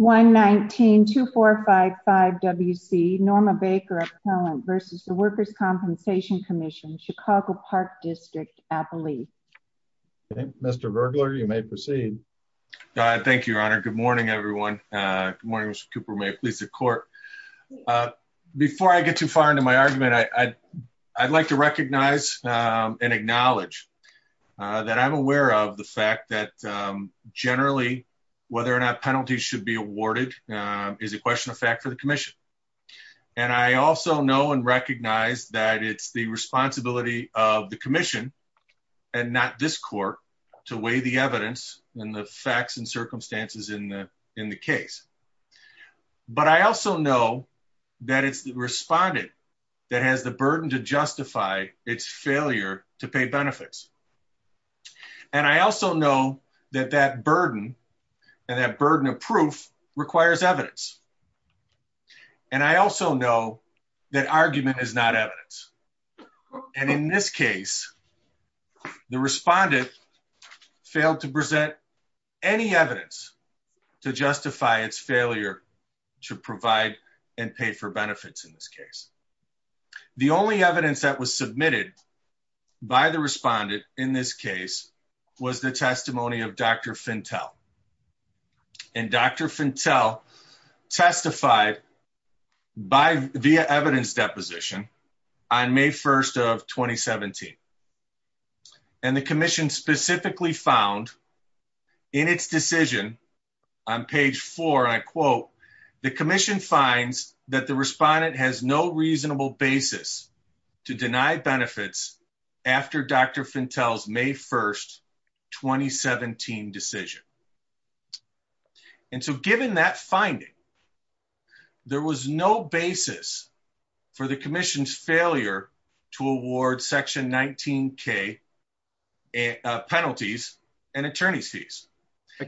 119-2455-WC Norma Baker Appellant versus the Workers' Compensation Commission, Chicago Park District, Appalachia. Okay, Mr. Vergler, you may proceed. Thank you, Your Honor. Good morning, everyone. Good morning, Mr. Cooper. May it please the Court. Before I get too far into my argument, I'd like to recognize and acknowledge that I'm aware of the fact that generally whether or not should be awarded is a question of fact for the Commission. And I also know and recognize that it's the responsibility of the Commission and not this Court to weigh the evidence and the facts and circumstances in the case. But I also know that it's the respondent that has the burden to justify its failure to pay benefits. And I also know that that burden and that burden of proof requires evidence. And I also know that argument is not evidence. And in this case, the respondent failed to present any evidence to justify its failure to provide and pay for benefits. And the evidence submitted by the respondent in this case was the testimony of Dr. Fintel. And Dr. Fintel testified via evidence deposition on May 1st of 2017. And the Commission specifically found in its decision on page 4, and I quote, the Commission finds that the respondent has no reasonable basis to deny benefits after Dr. Fintel's May 1st, 2017 decision. And so given that finding, there was no basis for the Commission's failure to award section 19k penalties and attorney's fees.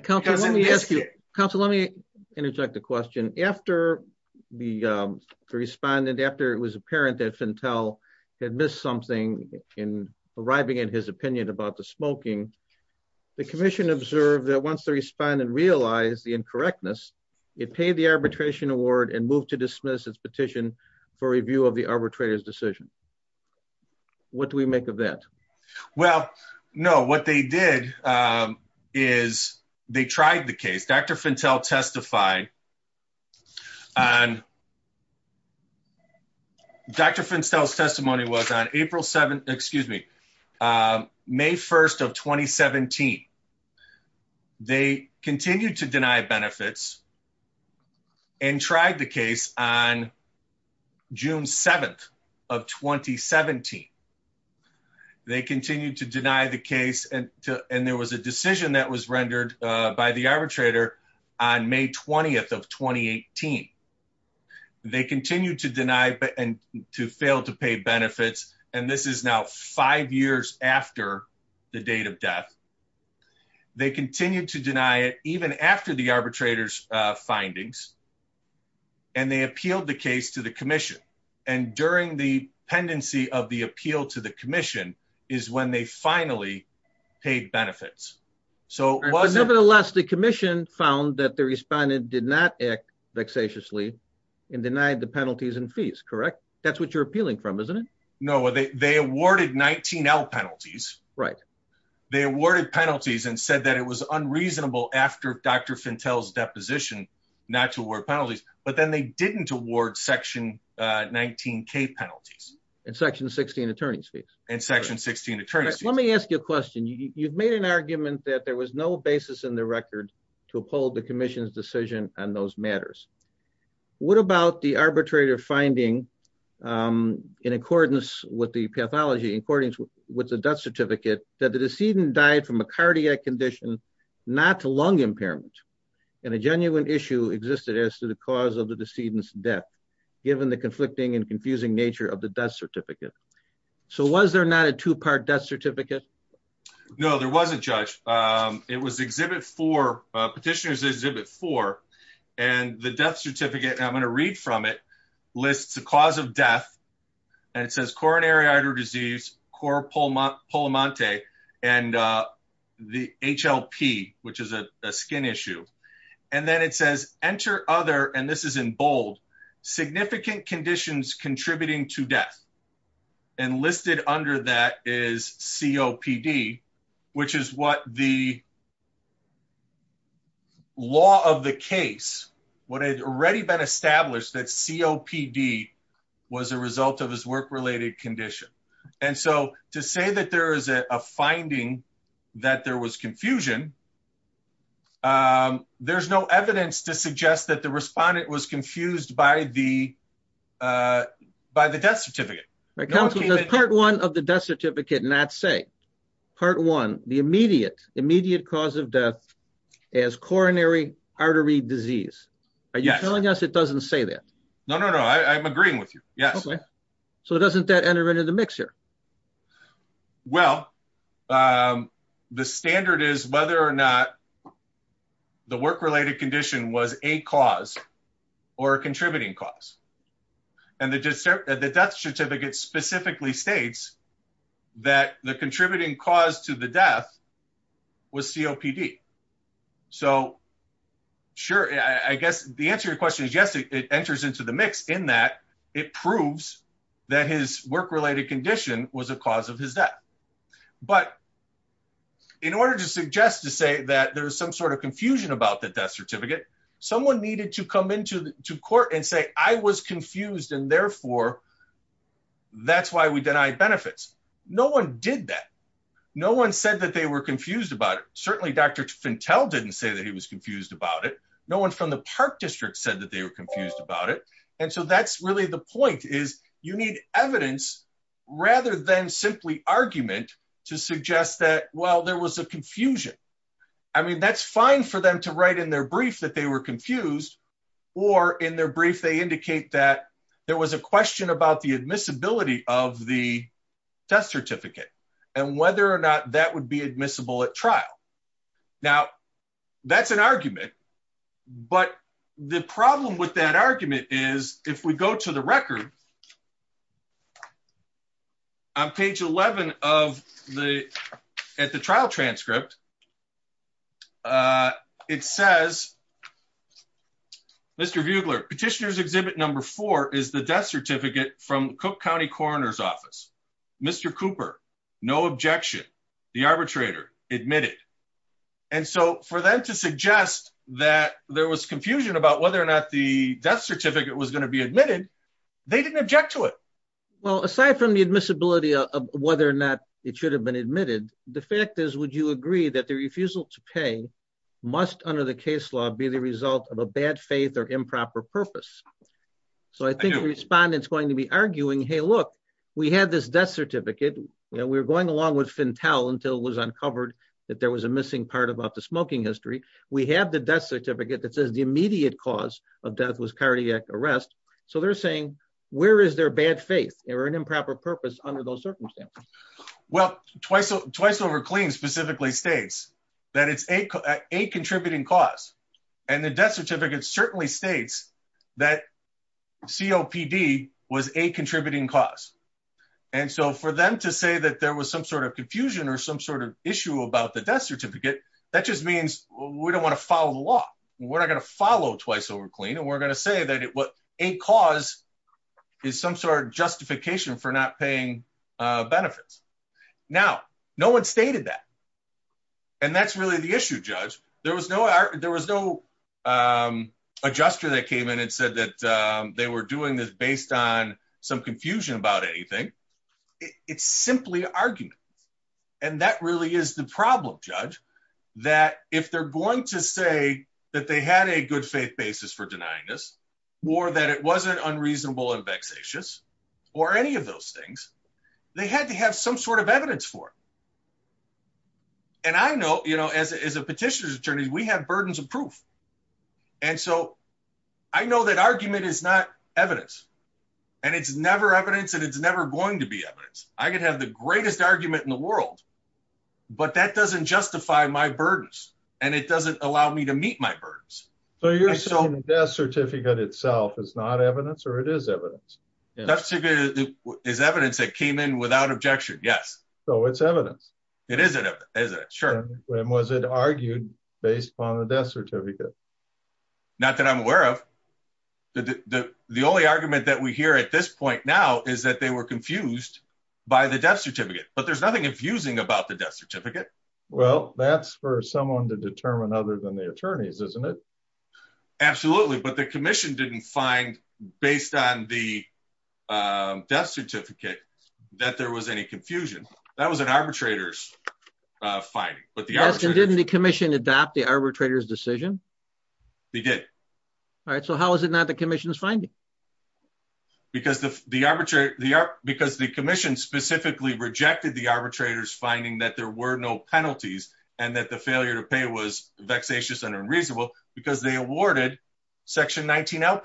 Counselor, let me ask you. Counselor, let me interject a question. After the respondent, after it was apparent that Fintel had missed something in arriving in his opinion about the smoking, the Commission observed that once the respondent realized the incorrectness, it paid the arbitration award and moved to dismiss its petition for review of the arbitrator's They tried the case. Dr. Fintel testified on Dr. Fintel's testimony was on April 7, excuse me, May 1st of 2017. They continued to deny benefits and tried the case on June 7th of 2017. They continued to deny the case and there was a decision that was rendered by the arbitrator on May 20th of 2018. They continued to deny and to fail to pay benefits. And this is now five years after the date of death. They continued to deny it even after the arbitrator's findings. And they appealed the case to the Commission. And during the pendency of the appeal to the Commission is when they finally paid benefits. Nevertheless, the Commission found that the respondent did not act vexatiously and denied the penalties and fees, correct? That's what you're appealing from, isn't it? No, they awarded 19l penalties. They awarded penalties and said it was unreasonable after Dr. Fintel's deposition not to award penalties, but then they didn't award section 19k penalties. And section 16 attorney's fees. And section 16 attorney's fees. Let me ask you a question. You've made an argument that there was no basis in the record to uphold the Commission's decision on those matters. What about the arbitrator finding in accordance with the death certificate that the decedent died from a cardiac condition, not lung impairment, and a genuine issue existed as to the cause of the decedent's death, given the conflicting and confusing nature of the death certificate. So was there not a two-part death certificate? No, there wasn't, Judge. It was Exhibit 4, Petitioner's Exhibit 4. And the death certificate, I'm going to read from it, lists the cause of death. And it says coronary artery disease, cor pulmonate, and the HLP, which is a skin issue. And then it says, enter other, and this is in bold, significant conditions contributing to death. And listed under that is COPD, which is what the law of the case, what had already been established that COPD was a result of his work-related condition. And so to say that there is a finding that there was confusion, there's no evidence to suggest that the respondent was confused by the death certificate. Part one of the death certificate did not say, part one, the immediate cause of death is coronary artery disease. Are you telling us it doesn't say that? No, no, no. I'm agreeing with you. Yes. Okay. So doesn't that enter into the mix here? Well, the standard is whether or not the work-related condition was a cause or a contributing cause. And the death certificate specifically states that the contributing cause to the death was COPD. So sure, I guess the answer to your question is yes, it enters into the mix in that it proves that his work-related condition was a cause of his death. But in order to suggest to say that there was some sort of confusion about the death certificate, someone needed to come into court and say, I was confused and therefore, that's why we denied benefits. No one did that. No one said that they were confused about it. Certainly Dr. Fintell didn't say that he was confused about it. No one from the Park District said that they were confused about it. And so that's really the point is you need evidence rather than simply argument to suggest that, well, there was a confusion. I mean, that's fine for them to write in their brief that they were confused or in their brief, they indicate that there was a question about the admissibility of the death certificate and whether or not that would be admissible at trial. Now that's an argument, but the problem with that argument is if we go to the record on page 11 at the trial transcript, it says, Mr. Bugler, petitioner's exhibit number four is the death certificate from Cook County coroner's office. Mr. Cooper, no objection. The arbitrator admitted. And so for them to suggest that there was confusion about whether or not the death certificate was going to be admitted, they didn't object to it. Well, aside from the admissibility of whether or not it should have been admitted, the fact is, would you agree that the refusal to pay must under the case law be the result of a bad faith or improper purpose? So I think the respondents going to be arguing, hey, look, we had this death certificate and we were going along with Fintell until it was uncovered that there was a missing part about the smoking history. We have the death certificate that says the immediate cause of death was cardiac arrest. So they're saying, where is their bad faith or an improper purpose under those circumstances? Well, twice over clean specifically states that it's a contributing cause. And the death certificate certainly states that COPD was a contributing cause. And so for them to say that there was some sort of confusion or some sort of issue about the death certificate, that just means we don't want to follow the law. We're not going to follow twice over clean. And we're going to say that a cause is some sort of justification for not paying benefits. Now, no one stated that. And that's really the issue, Judge. There was no adjuster that came in and said that they were doing this based on confusion about anything. It's simply argument. And that really is the problem, Judge, that if they're going to say that they had a good faith basis for denying this, or that it wasn't unreasonable and vexatious, or any of those things, they had to have some sort of evidence for it. And I know, you know, as a petitioner's attorney, we have burdens of proof. And so I know that argument is not evidence. And it's never evidence that it's never going to be evidence. I could have the greatest argument in the world. But that doesn't justify my burdens. And it doesn't allow me to meet my burdens. So you're saying the death certificate itself is not evidence or it is evidence? That is evidence that came in without objection. Yes. So it's evidence. It is an evidence, sure. And was it argued based on the death certificate? Not that I'm aware of. The only argument that we hear at this point now is that they were confused by the death certificate. But there's nothing confusing about the death certificate. Well, that's for someone to determine other than the attorneys, isn't it? Absolutely. But the commission didn't find, based on the death certificate, that there was any confusion. That was an arbitrator's finding. Didn't the commission adopt the arbitrator's decision? They did. All right. So how is it not the commission's finding? Because the commission specifically rejected the arbitrator's finding that there were no penalties and that the failure to pay was vexatious and unreasonable because they awarded Section 19L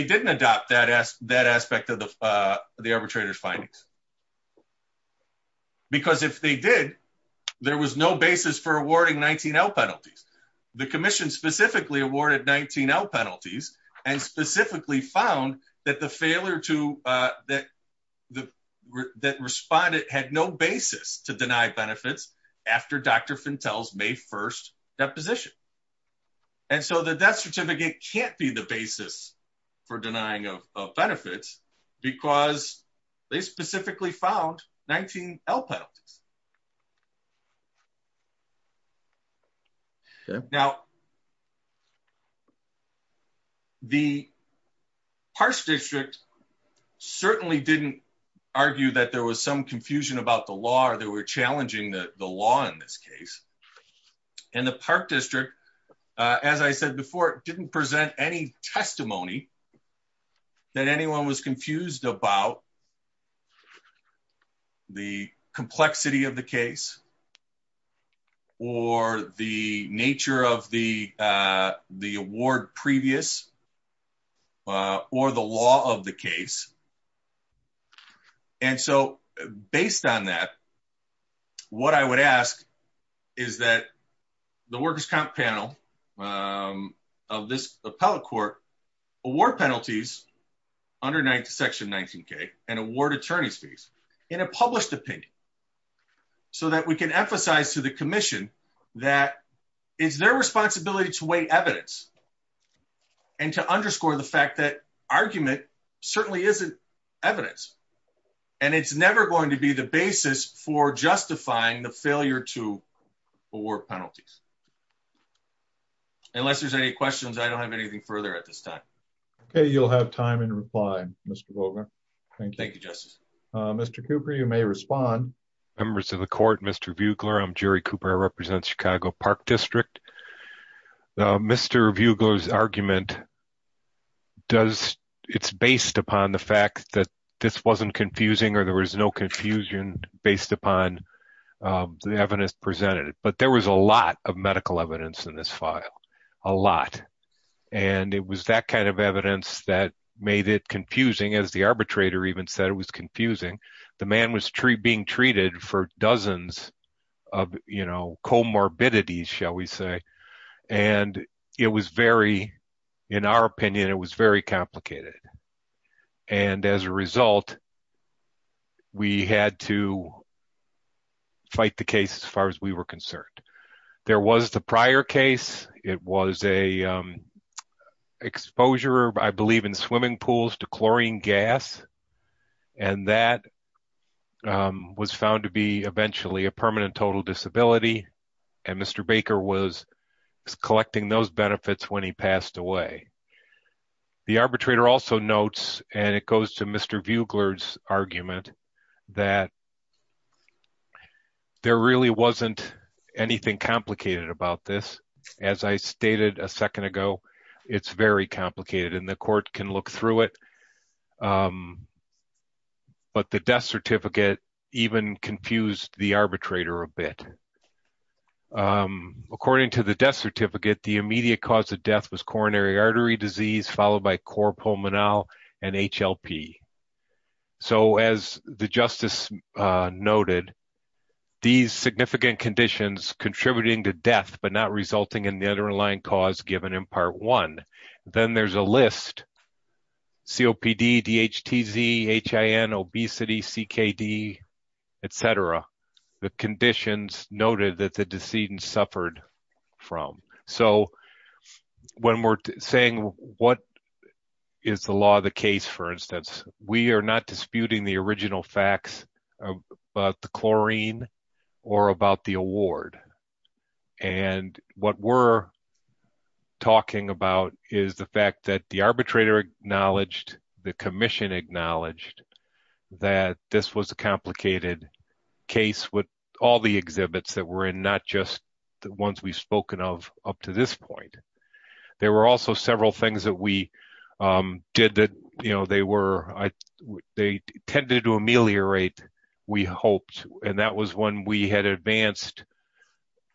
the arbitrator's findings. Because if they did, there was no basis for awarding 19L penalties. The commission specifically awarded 19L penalties and specifically found that the respondent had no basis to deny benefits after Dr. Fentel's May 1st deposition. And so the death certificate can't be the basis for denying of benefits because they specifically found 19L penalties. Now, the Park District certainly didn't argue that there was some confusion about the law or challenging the law in this case. And the Park District, as I said before, didn't present any testimony that anyone was confused about the complexity of the case or the nature of the award previous or the law of the case. And so based on that, what I would ask is that the workers' comp panel of this appellate court award penalties under Section 19K and award attorney's fees in a published opinion so that we can emphasize to the commission that it's their responsibility to weigh evidence and to underscore the fact that argument certainly isn't evidence. And it's never going to be the basis for justifying the failure to award penalties. Unless there's any questions, I don't have anything further at this time. Okay, you'll have time in reply, Mr. Volcker. Thank you, Justice. Mr. Cooper, you may respond. Members of the court, Mr. Buechler, I'm Jerry Cooper. I represent Chicago Park District. The Mr. Buechler's argument, it's based upon the fact that this wasn't confusing or there was no confusion based upon the evidence presented. But there was a lot of medical evidence in this file, a lot. And it was that kind of evidence that made it confusing as the arbitrator even said it was confusing. The man was being treated for dozens of comorbidities, shall we say. And it was very, in our opinion, it was very complicated. And as a result, we had to fight the case as far as we were concerned. There was the prior case. It was a exposure, I believe, in swimming pools to chlorine gas. And that was found to be was collecting those benefits when he passed away. The arbitrator also notes, and it goes to Mr. Buechler's argument, that there really wasn't anything complicated about this. As I stated a second ago, it's very complicated and the court can look through it. But the death certificate even confused the arbitrator a bit. According to the death certificate, the immediate cause of death was coronary artery disease followed by corpulmonal and HLP. So as the justice noted, these significant conditions contributing to death but not resulting in the underlying cause given in Part 1. Then there's a list, COPD, DHTZ, HIN, obesity, CKD, etc. The conditions noted that the decedent suffered from. So when we're saying what is the law of the case, for instance, we are not disputing the original facts about the chlorine or about the award. And what we're talking about is the fact that the arbitrator acknowledged, the commission acknowledged, that this was a the ones we've spoken of up to this point. There were also several things that we did that, you know, they tended to ameliorate, we hoped. And that was when we had advanced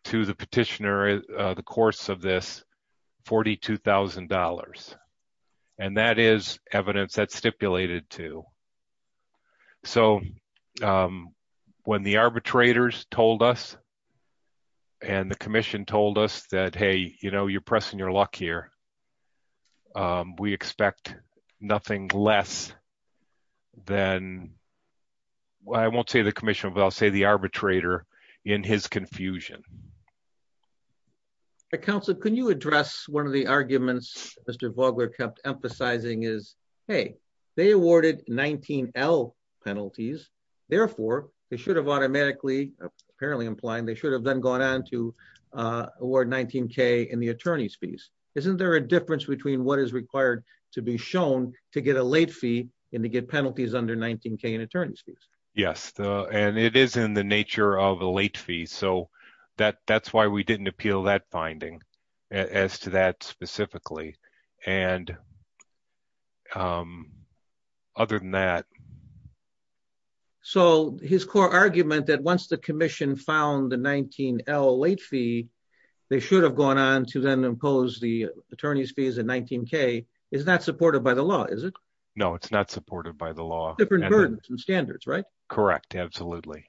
to the petitioner, the course of this, $42,000. And that is evidence that stipulated to. So when the arbitrators told us, and the commission told us that, hey, you know, you're pressing your luck here. We expect nothing less than, well, I won't say the commission, but I'll say the arbitrator in his confusion. Council, can you address one of the arguments Mr. Vogler kept emphasizing is, hey, they awarded 19L penalties. Therefore, they should have automatically, apparently implying they should have then gone on to award 19K in the attorney's fees. Isn't there a difference between what is required to be shown to get a late fee and to get penalties under 19K in attorney's fees? Yes. And it is in the nature of a late fee. So that's why we didn't appeal that finding as to that specifically. And other than that. So his core argument that once the commission found the 19L late fee, they should have gone on to then impose the attorney's fees in 19K is not supported by the law, is it? No, it's not supported by the law. Different burdens and standards, right? Correct. Absolutely.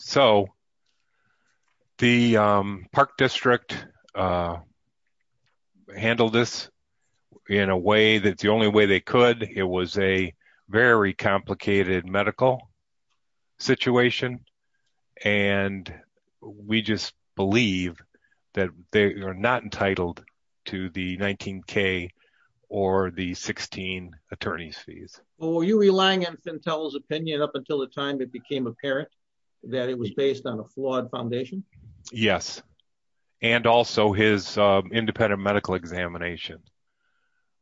So the Park District handled this in a way that's the only way they could. It was a very complicated medical situation. And we just believe that they are not entitled to the 19K or the 16 attorney's fees. Well, were you relying on Fintel's opinion up until the time it became apparent that it was based on a flawed foundation? Yes. And also his independent medical examination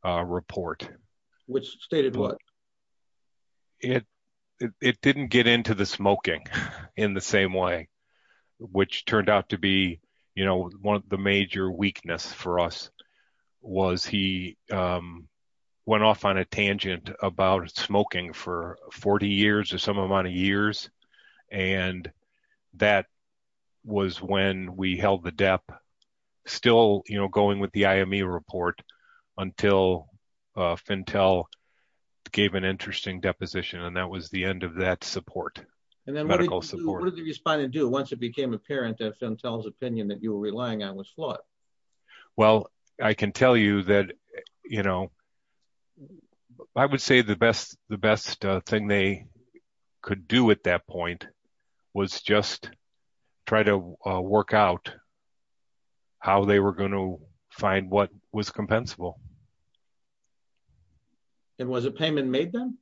report. Which stated what? It didn't get into the smoking in the same way, which turned out to be one of the major weakness for us was he went off on a tangent about smoking for 40 years or some amount of years. And that was when we held the DEP, still going with the IME report until Fintel gave an interesting deposition. And that was the end of that support. And then what did the respondent do once it became apparent that Fintel's opinion that you were relying on was flawed? Well, I can tell you that, you know, I would say the best thing they could do at that point was just try to work out how they were going to find what was compensable. And was a payment made then?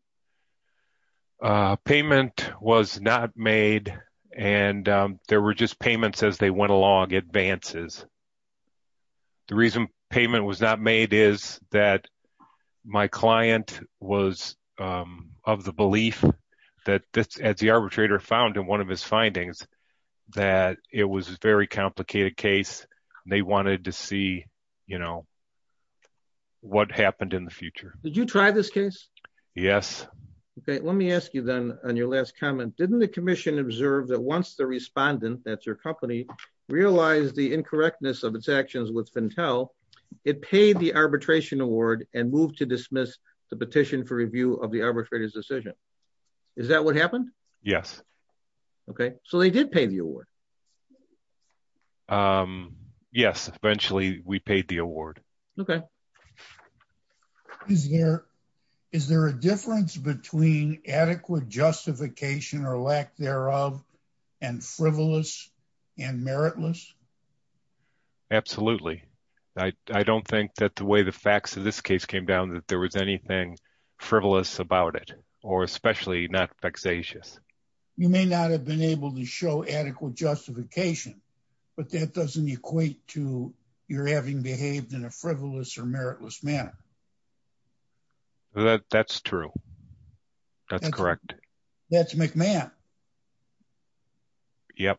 A payment was not made. And there were just payments as they went along, advances. The reason payment was not made is that my client was of the belief that, as the arbitrator found in one of his findings, that it was a very complicated case. They wanted to see, you know, what happened in the future. Did you try this case? Yes. Okay. Let me ask you then on your last comment, didn't the commission observe that once the respondent, that's your company, realized the incorrectness of its actions with Fintel, it paid the arbitration award and moved to dismiss the petition for review of the arbitrator's decision? Is that what happened? Yes. Okay. So they did pay the award. Yes. Eventually we paid the award. Okay. Is there, is there a difference between adequate justification or lack thereof and frivolous and meritless? Absolutely. I don't think that the way the facts of this case came down, that there was anything frivolous about it or especially not vexatious. You may not have been able to show adequate justification, but that doesn't equate to your having behaved in a frivolous or meritless manner. That's true. That's correct. That's McMahon. Yep.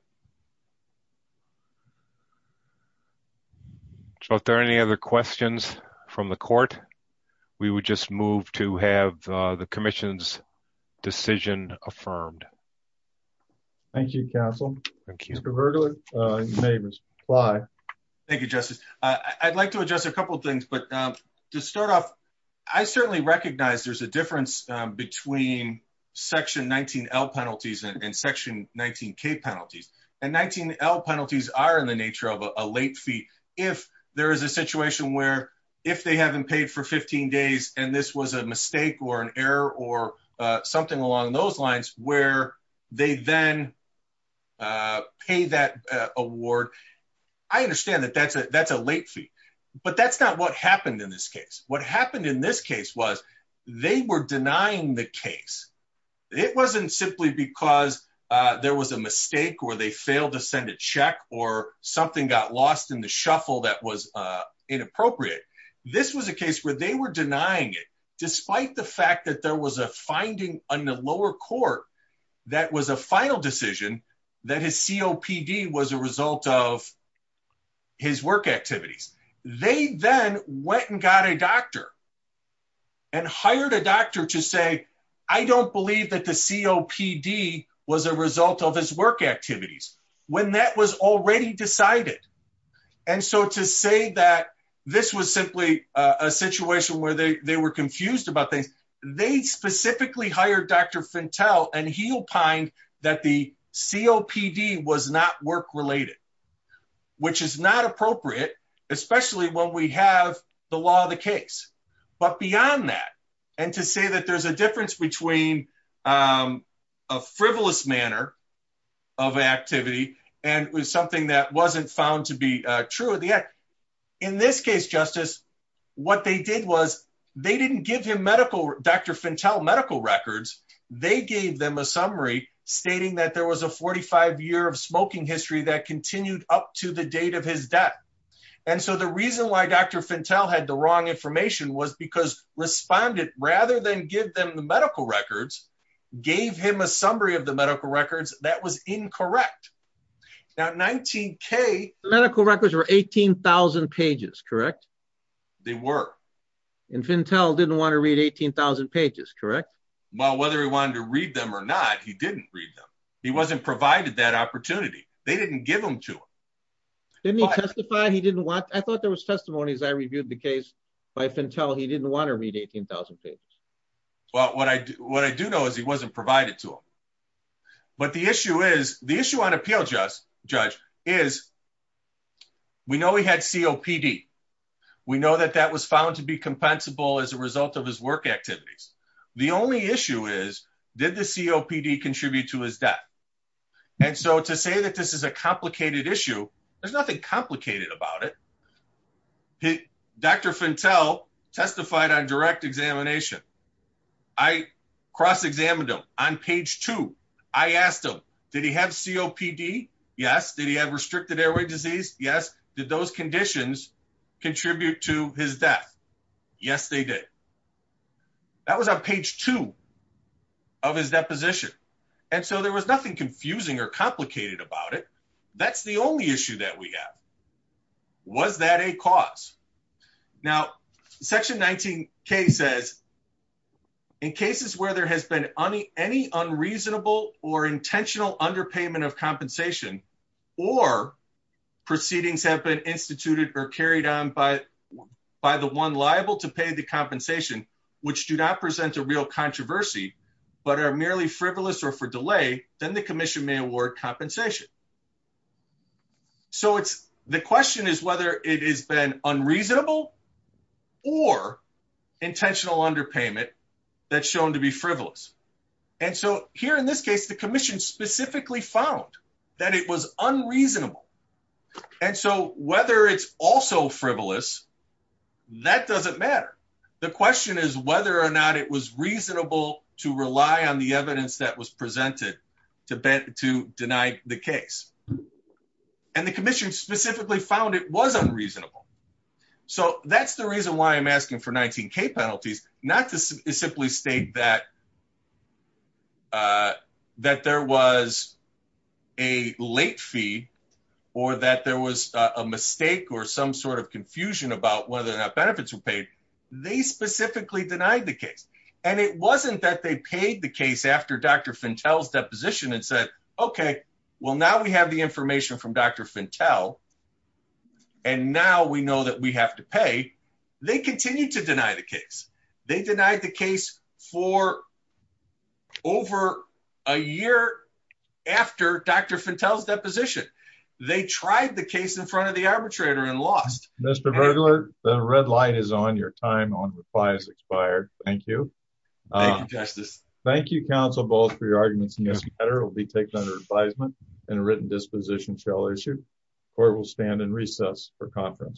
So if there are any other questions from the court, we would just move to have the commission's decision affirmed. Thank you, counsel. Thank you. Thank you, Justice. I'd like to address a couple of things, but to start off, I certainly recognize there's a difference between section 19L penalties and section 19K penalties and 19L penalties are in the nature of a late fee. If there is a situation where if they haven't paid for 15 days, and this was a mistake or an pay that award, I understand that that's a late fee. But that's not what happened in this case. What happened in this case was they were denying the case. It wasn't simply because there was a mistake or they failed to send a check or something got lost in the shuffle that was inappropriate. This was a case where they were denying it, despite the fact that there was a finding on the lower court that was a final decision that his COPD was a result of his work activities. They then went and got a doctor and hired a doctor to say, I don't believe that the COPD was a result of his work activities when that was already decided. And so to say that this was simply a situation where they were confused about things, they specifically hired Dr. Fintel and he opined that the COPD was not work related, which is not appropriate, especially when we have the law of the case. But beyond that, and to say that there's a difference between a frivolous manner of activity and was something that wasn't found to be true of the act. In this case, Justice, what they did was they didn't give him medical, Dr. Fintel medical records, they gave them a summary stating that there was a 45 year of smoking history that continued up to the date of his death. And so the reason why Dr. Fintel had the wrong information was because responded rather than give them the medical records, gave him a summary of the medical records that was incorrect. Now, 19K medical records were 18,000 pages, correct? They were. And Fintel didn't want to read 18,000 pages, correct? Well, whether he wanted to read them or not, he didn't read them. He wasn't provided that opportunity. They didn't give them to him. Didn't he testify? He didn't want, I thought there was testimonies. I reviewed the case by Fintel. He didn't want to read 18,000 pages. Well, what I do know is he wasn't provided to him. But the issue is, the issue on appeal judge is we know he had COPD. We know that that was found to be compensable as a result of his work activities. The only issue is, did the COPD contribute to his death? And so to say that this is a complicated issue, there's nothing complicated about it. Dr. Fintel testified on direct examination. I cross-examined him. On page two, I asked him, did he have COPD? Yes. Did he have restricted airway disease? Yes. Did those conditions contribute to his death? Yes, they did. That was on page two of his deposition. And so there was nothing confusing or complicated about it. That's the only issue that we have. Was that a cause? Now, section 19K says, in cases where there has been any unreasonable or intentional underpayment of compensation, or proceedings have been instituted or carried on by the one liable to pay the compensation, which do not present a real controversy, but are merely frivolous or for delay, then the commission may award compensation. So the question is whether it has been unreasonable or intentional underpayment that's shown to be frivolous. And so here in this case, the commission specifically found that it was unreasonable. And so whether it's also frivolous, that doesn't matter. The question is whether or not it was reasonable to rely on the evidence that was presented to deny the case. And the commission specifically found it was unreasonable. So that's the reason why I'm asking for 19K penalties, not to simply state that that there was a late fee, or that there was a mistake or some sort of confusion about whether or not benefits were paid. They specifically denied the case. And it wasn't that they paid the case after Dr. Fentel's deposition and said, OK, well, now we have the information from Dr. Fentel. And now we know that we have to pay. They continue to deny the case. They denied the case for over a year after Dr. Fentel's deposition. They tried the case in front of the arbitrator and lost. Mr. Burglar, the red light is on. Your time on reply has expired. Thank you. Thank you, counsel, both for your arguments in this matter. It will be taken under advisement and a written disposition shall issue. Court will stand in recess for conference.